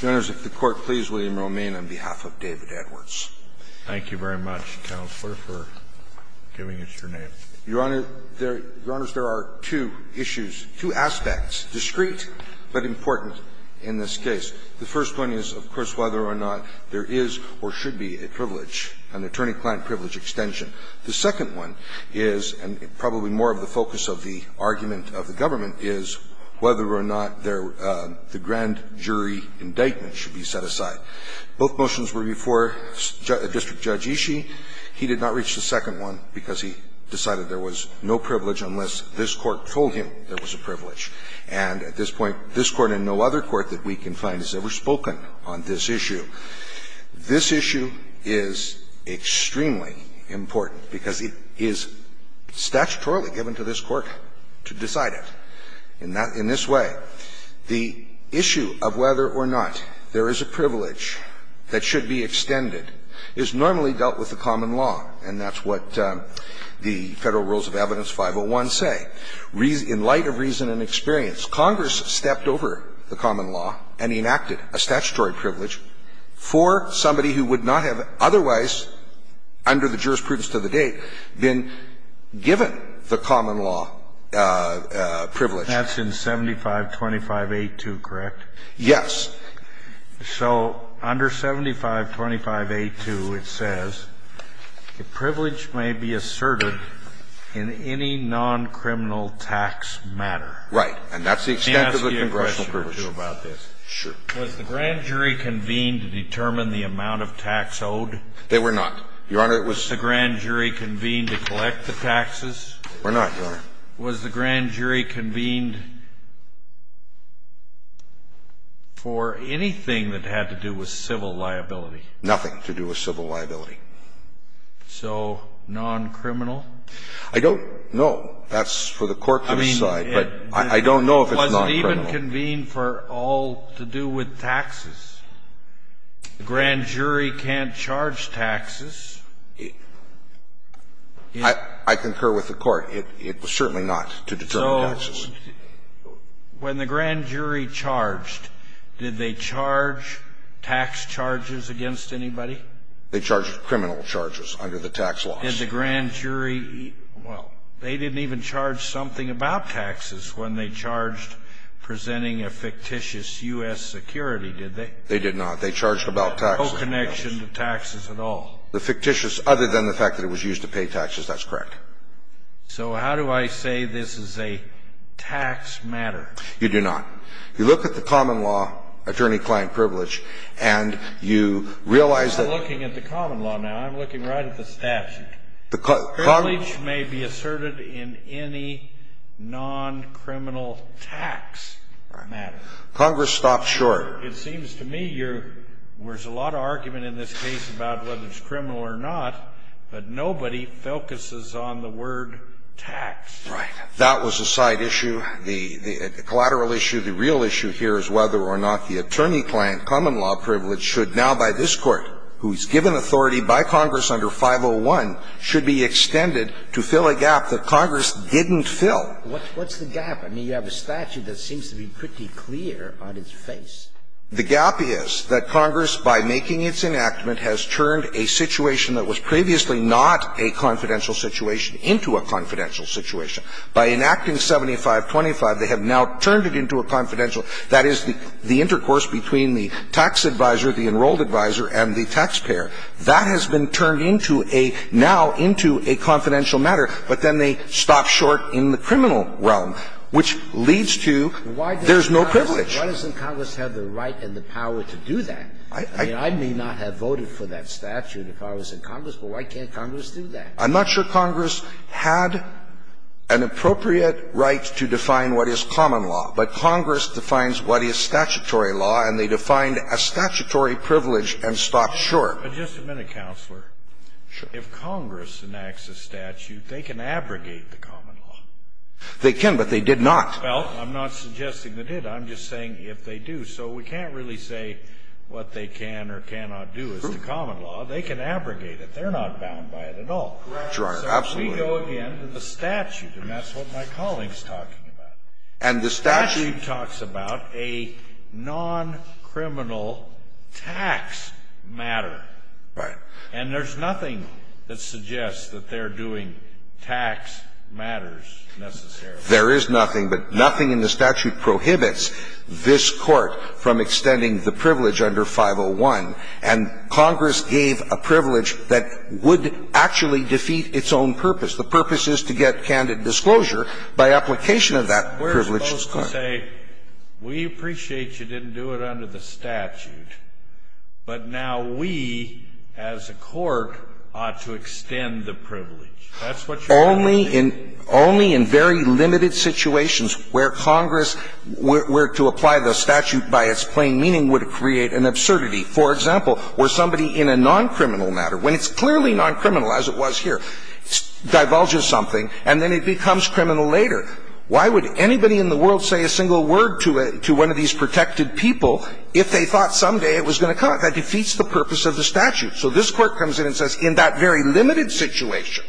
Thank you very much, Counselor, for giving us your name. Your Honor, there are two issues, two aspects, discreet but important in this case. The first one is, of course, whether or not there is or should be a privilege, an attorney-client privilege extension. The second one is, and probably more of the focus of the argument of the government, is whether or not the grand jury indictment should be set aside. Both motions were before District Judge Ishii. He did not reach the second one because he decided there was no privilege unless this Court told him there was a privilege. And at this point, this Court and no other court that we can find has ever spoken on this issue. This issue is extremely important because it is statutorily given to this Court to decide it. In this way, the issue of whether or not there is a privilege that should be extended is normally dealt with the common law, and that's what the Federal Rules of Evidence 501 say. In light of reason and experience, Congress stepped over the common law and enacted a statutory privilege for somebody who would not have otherwise, under the jurisprudence of the state, been given the common law privilege. That's in 7525A2, correct? Yes. So under 7525A2, it says, the privilege may be asserted in any non-criminal tax matter. Right. And that's the extent of the congressional privilege. Can I ask you a question or two about this? Sure. Was the grand jury convened to determine the amount of tax owed? They were not. Your Honor, it was the grand jury. Was the grand jury convened to collect the taxes? They were not, Your Honor. Was the grand jury convened for anything that had to do with civil liability? Nothing to do with civil liability. So non-criminal? I don't know. That's for the Court to decide. I mean, it was even convened for all to do with taxes. The grand jury can't charge taxes. I concur with the Court. It was certainly not to determine taxes. So when the grand jury charged, did they charge tax charges against anybody? They charged criminal charges under the tax laws. Did the grand jury eat the tax charges? Well, they didn't even charge something about taxes when they charged presenting a fictitious U.S. security, did they? They did not. They charged about taxes. No connection to taxes at all. The fictitious, other than the fact that it was used to pay taxes, that's correct. So how do I say this is a tax matter? You do not. You look at the common law, attorney-client privilege, and you realize that- I'm not looking at the common law now. I'm looking right at the statute. Privilege may be asserted in any non-criminal tax matter. Congress stopped short. It seems to me you're – there's a lot of argument in this case about whether it's criminal or not, but nobody focuses on the word tax. Right. That was a side issue. The collateral issue, the real issue here is whether or not the attorney-client common law privilege should now, by this Court, who is given authority by Congress under 501, should be extended to fill a gap that Congress didn't fill. What's the gap? I mean, you have a statute that seems to be pretty clear on its face. The gap is that Congress, by making its enactment, has turned a situation that was previously not a confidential situation into a confidential situation. By enacting 7525, they have now turned it into a confidential – that is, the intercourse between the tax advisor, the enrolled advisor, and the taxpayer. That has been turned into a – now into a confidential matter, but then they stopped short in the criminal realm, which leads to there's no privilege. Why doesn't Congress have the right and the power to do that? I mean, I may not have voted for that statute if I was in Congress, but why can't Congress do that? I'm not sure Congress had an appropriate right to define what is common law, but Congress defines what is statutory law, and they defined a statutory privilege and stopped short. But just a minute, Counselor. Sure. If Congress enacts a statute, they can abrogate the common law. They can, but they did not. Well, I'm not suggesting they did. I'm just saying if they do. So we can't really say what they can or cannot do is the common law. They can abrogate it. They're not bound by it at all. Correct. Your Honor, absolutely. So we go again to the statute, and that's what my colleague is talking about. And the statute – The statute talks about a non-criminal tax matter. Right. And there's nothing that suggests that they're doing tax matters necessarily. There is nothing, but nothing in the statute prohibits this Court from extending the privilege under 501. And Congress gave a privilege that would actually defeat its own purpose. The purpose is to get candid disclosure by application of that privilege to the Court. We're supposed to say, we appreciate you didn't do it under the statute, but now we, as a court, ought to extend the privilege. That's what you're saying. Only in – only in very limited situations where Congress – where to apply the statute by its plain meaning would create an absurdity. For example, where somebody in a non-criminal matter, when it's clearly non-criminal as it was here, divulges something, and then it becomes criminal later. Why would anybody in the world say a single word to one of these protected people if they thought someday it was going to come? That defeats the purpose of the statute. So this Court comes in and says, in that very limited situation,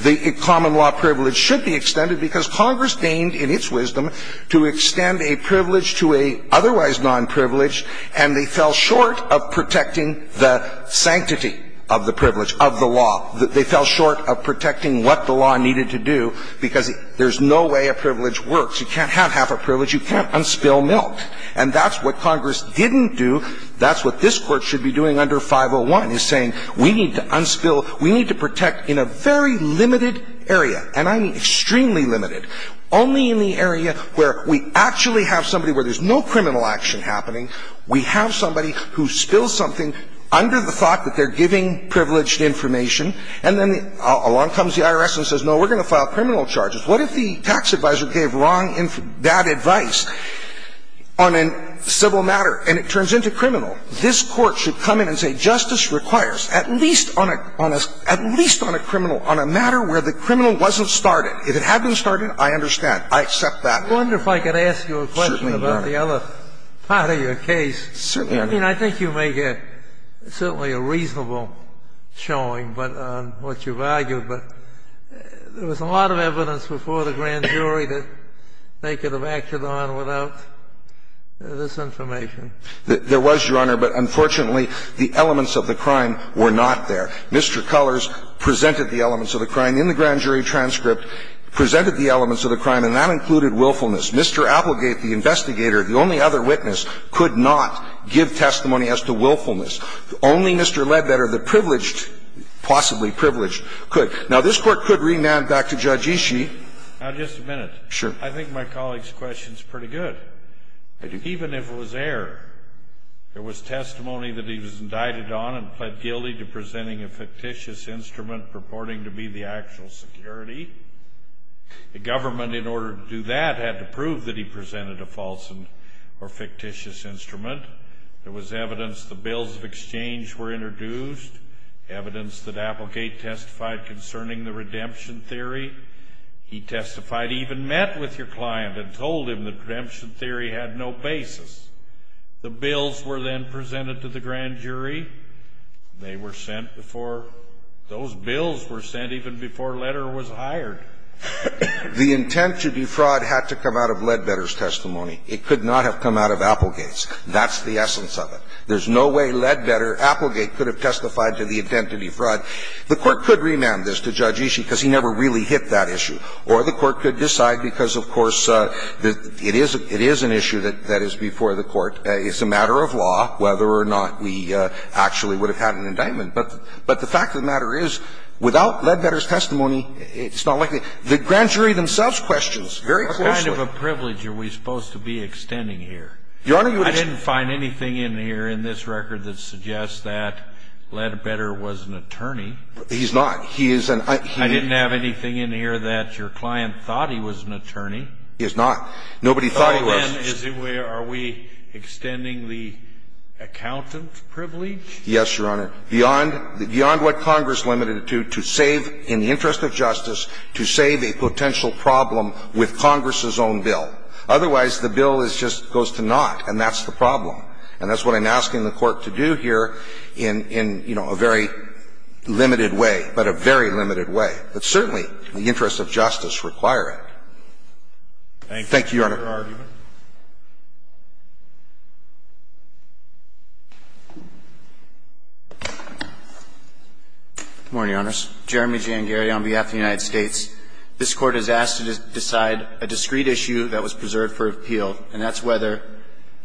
the common law privilege should be extended because Congress deigned, in its wisdom, to extend a privilege to a otherwise non-privileged, and they fell short of protecting the sanctity of the privilege, of the law. They fell short of protecting what the law needed to do, because there's no way a privilege works. You can't have half a privilege. You can't unspill milk. And that's what Congress didn't do. That's what this Court should be doing under 501. It's saying we need to unspill, we need to protect in a very limited area, and I mean extremely limited, only in the area where we actually have somebody where there's no criminal action happening, we have somebody who spills something under the thought that they're giving privileged information, and then along comes the IRS and says, no, we're going to file criminal charges. What if the tax advisor gave wrong, bad advice on a civil matter, and it turns into criminal? This Court should come in and say justice requires, at least on a criminal, on a matter where the criminal wasn't started. If it had been started, I understand. I accept that. Certainly, Your Honor. I wonder if I could ask you a question about the other part of your case. Certainly, Your Honor. I mean, I think you make certainly a reasonable showing on what you've argued. But there was a lot of evidence before the grand jury that they could have acted on without this information. There was, Your Honor, but unfortunately, the elements of the crime were not there. Mr. Cullors presented the elements of the crime in the grand jury transcript, presented the elements of the crime, and that included willfulness. Mr. Applegate, the investigator, the only other witness, could not give testimony as to willfulness. Only Mr. Ledbetter, the privileged, possibly privileged, could. Now, this Court could renam back to Judge Ishii. Now, just a minute. Sure. I think my colleague's question is pretty good. I do. Even if it was error, there was testimony that he was indicted on and pled guilty to presenting a fictitious instrument purporting to be the actual security. The government, in order to do that, had to prove that he presented a false or fictitious instrument. There was evidence the bills of exchange were introduced, evidence that Applegate testified concerning the redemption theory. He testified, even met with your client and told him the redemption theory had no basis. The bills were then presented to the grand jury. They were sent before those bills were sent even before Ledbetter was hired. The intent to defraud had to come out of Ledbetter's testimony. It could not have come out of Applegate's. That's the essence of it. There's no way Ledbetter, Applegate could have testified to the intent to defraud. The Court could remand this to Judge Ishii because he never really hit that issue, or the Court could decide because, of course, it is an issue that is before the Court. It's a matter of law whether or not we actually would have had an indictment. But the fact of the matter is, without Ledbetter's testimony, it's not likely the grand jury themselves questions very closely. It's kind of a privilege are we supposed to be extending here. Your Honor, you would just I didn't find anything in here in this record that suggests that Ledbetter was an attorney. He's not. He is an I didn't have anything in here that your client thought he was an attorney. He is not. Nobody thought he was. So then, are we extending the accountant privilege? Yes, Your Honor. Beyond what Congress limited it to, to save, in the interest of justice, to save a potential problem with Congress's own bill. Otherwise, the bill just goes to naught, and that's the problem. And that's what I'm asking the Court to do here in, you know, a very limited way, but a very limited way, but certainly in the interest of justice, require it. Thank you, Your Honor. Good morning, Your Honors. Jeremy J. Angieri on behalf of the United States. This Court has asked to decide a discrete issue that was preserved for appeal, and that's whether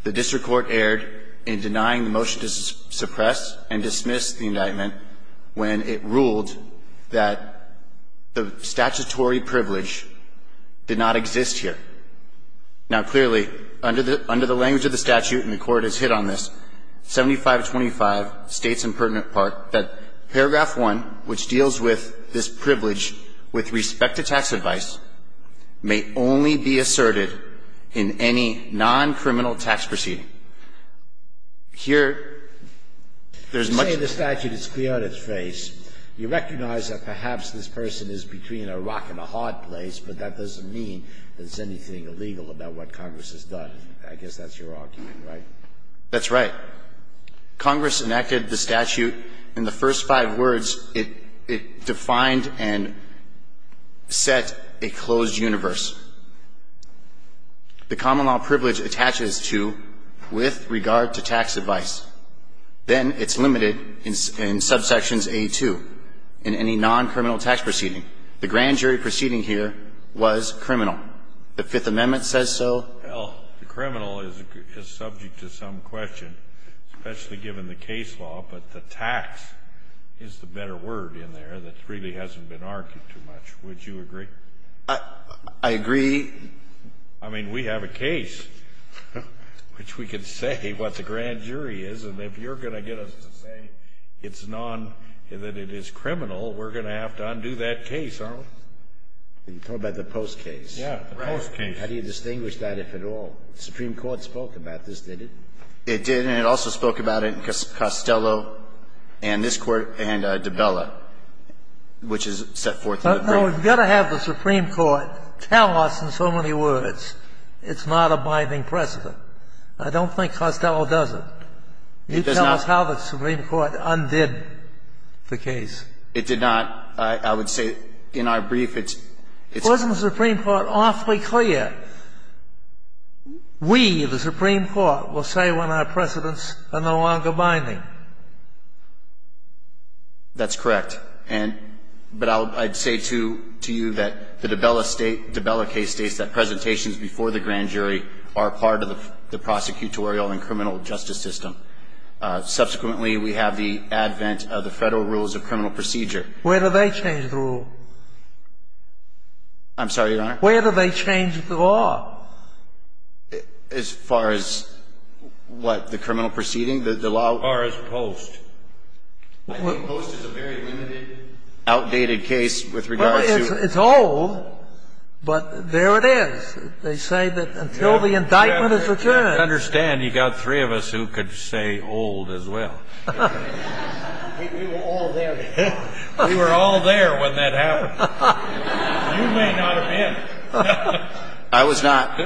the district court erred in denying the motion to suppress and dismiss the indictment when it ruled that the statutory privilege did not exist here. Now, clearly, under the language of the statute, and the Court has hit on this, 7525 states in pertinent part that paragraph 1, which deals with this privilege with respect to tax advice, may only be asserted in any non-criminal tax proceeding. Here, there's much to say. You're saying the statute has cleared its face. You recognize that perhaps this person is between a rock and a hard place, but that doesn't mean there's anything illegal about what Congress has done. I guess that's your argument, right? That's right. Congress enacted the statute. In the first five words, it defined and set a closed universe. The common law privilege attaches to with regard to tax advice. Then it's limited in subsections A2 in any non-criminal tax proceeding. The grand jury proceeding here was criminal. The Fifth Amendment says so. Well, the criminal is subject to some question, especially given the case law, but the tax is the better word in there that really hasn't been argued too much. Would you agree? I agree. I mean, we have a case which we can say what the grand jury is, and if you're going to get us to say it's non, that it is criminal, we're going to have to undo that case, aren't we? You're talking about the Post case. Yeah, the Post case. How do you distinguish that, if at all? The Supreme Court spoke about this, did it? It did, and it also spoke about it in Costello and this Court and DiBella, which is set forth in the brief. Well, we've got to have the Supreme Court tell us in so many words it's not a binding precedent. I don't think Costello does it. He tells us how the Supreme Court undid the case. It did not. I would say in our brief, it's ‑‑ Wasn't the Supreme Court awfully clear? We, the Supreme Court, will say when our precedents are no longer binding. That's correct. But I'd say to you that the DiBella case states that presentations before the grand jury are part of the prosecutorial and criminal justice system. Subsequently, we have the advent of the Federal Rules of Criminal Procedure. Where do they change the rule? I'm sorry, Your Honor? Where do they change the law? As far as what? The criminal proceeding? The law? As far as Post. I think Post is a very limited, outdated case with regard to ‑‑ Well, it's old, but there it is. They say that until the indictment is returned ‑‑ I understand you've got three of us who could say old as well. We were all there. We were all there when that happened. You may not have been. I was not.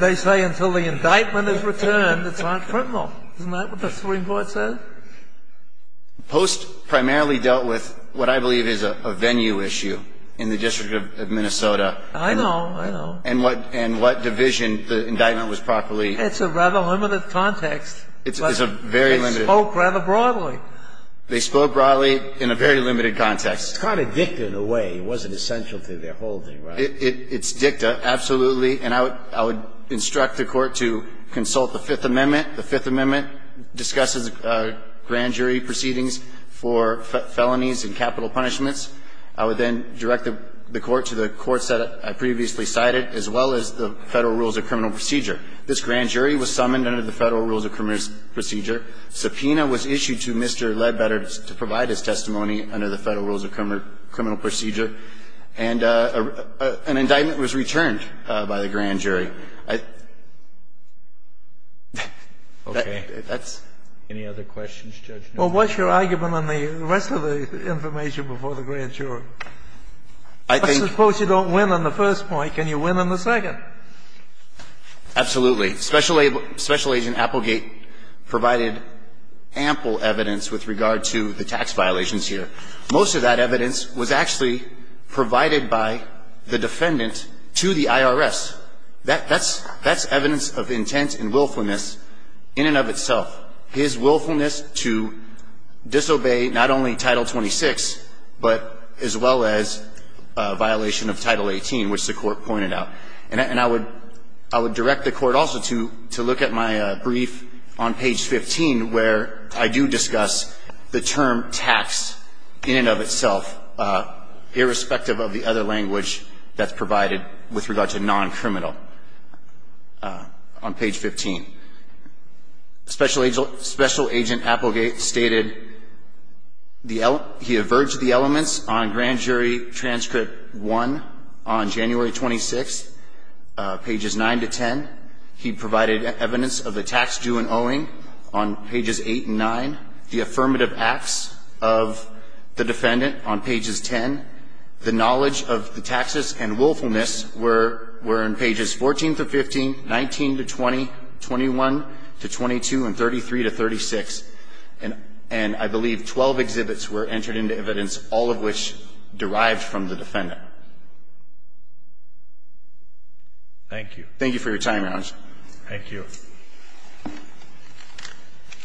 They say until the indictment is returned, it's not criminal. Isn't that what the Supreme Court says? Post primarily dealt with what I believe is a venue issue in the District of Minnesota. I know. I know. And what division the indictment was properly ‑‑ It's a rather limited context, but they spoke rather broadly. They spoke broadly in a very limited context. It's kind of dicta in a way. It wasn't essential to their whole thing, right? It's dicta, absolutely. And I would instruct the Court to consult the Fifth Amendment. The Fifth Amendment discusses grand jury proceedings for felonies and capital punishments. I would then direct the Court to the courts that I previously cited, as well as the Federal Rules of Criminal Procedure. This grand jury was summoned under the Federal Rules of Criminal Procedure. Subpoena was issued to Mr. Ledbetter to provide his testimony under the Federal Rules of Criminal Procedure. And an indictment was returned by the grand jury. Okay. Any other questions, Judge? Well, what's your argument on the rest of the information before the grand jury? I think ‑‑ I suppose you don't win on the first point. Can you win on the second? Absolutely. Special Agent Applegate provided ample evidence with regard to the tax violations here. Most of that evidence was actually provided by the defendant to the IRS. That's evidence of intent and willfulness in and of itself. His willfulness to disobey not only Title 26, but as well as violation of Title 18, which the Court pointed out. And I would direct the Court also to look at my brief on page 15, where I do discuss the term tax in and of itself, irrespective of the other language that's provided with regard to noncriminal on page 15. Special Agent Applegate stated he averged the elements on Grand Jury Transcript 1 on January 26, pages 9 to 10. He provided evidence of the tax due and owing on pages 8 and 9. The affirmative acts of the defendant on pages 10. The knowledge of the taxes and willfulness were in pages 14 to 15, 19 to 20, 21 to 22, and 33 to 36. And I believe 12 exhibits were entered into evidence, all of which derived from the defendant. Thank you. Thank you for your time, Your Honor. Thank you.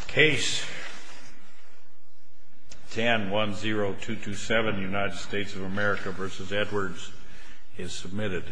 Case 1010227, United States of America v. Edwards is submitted.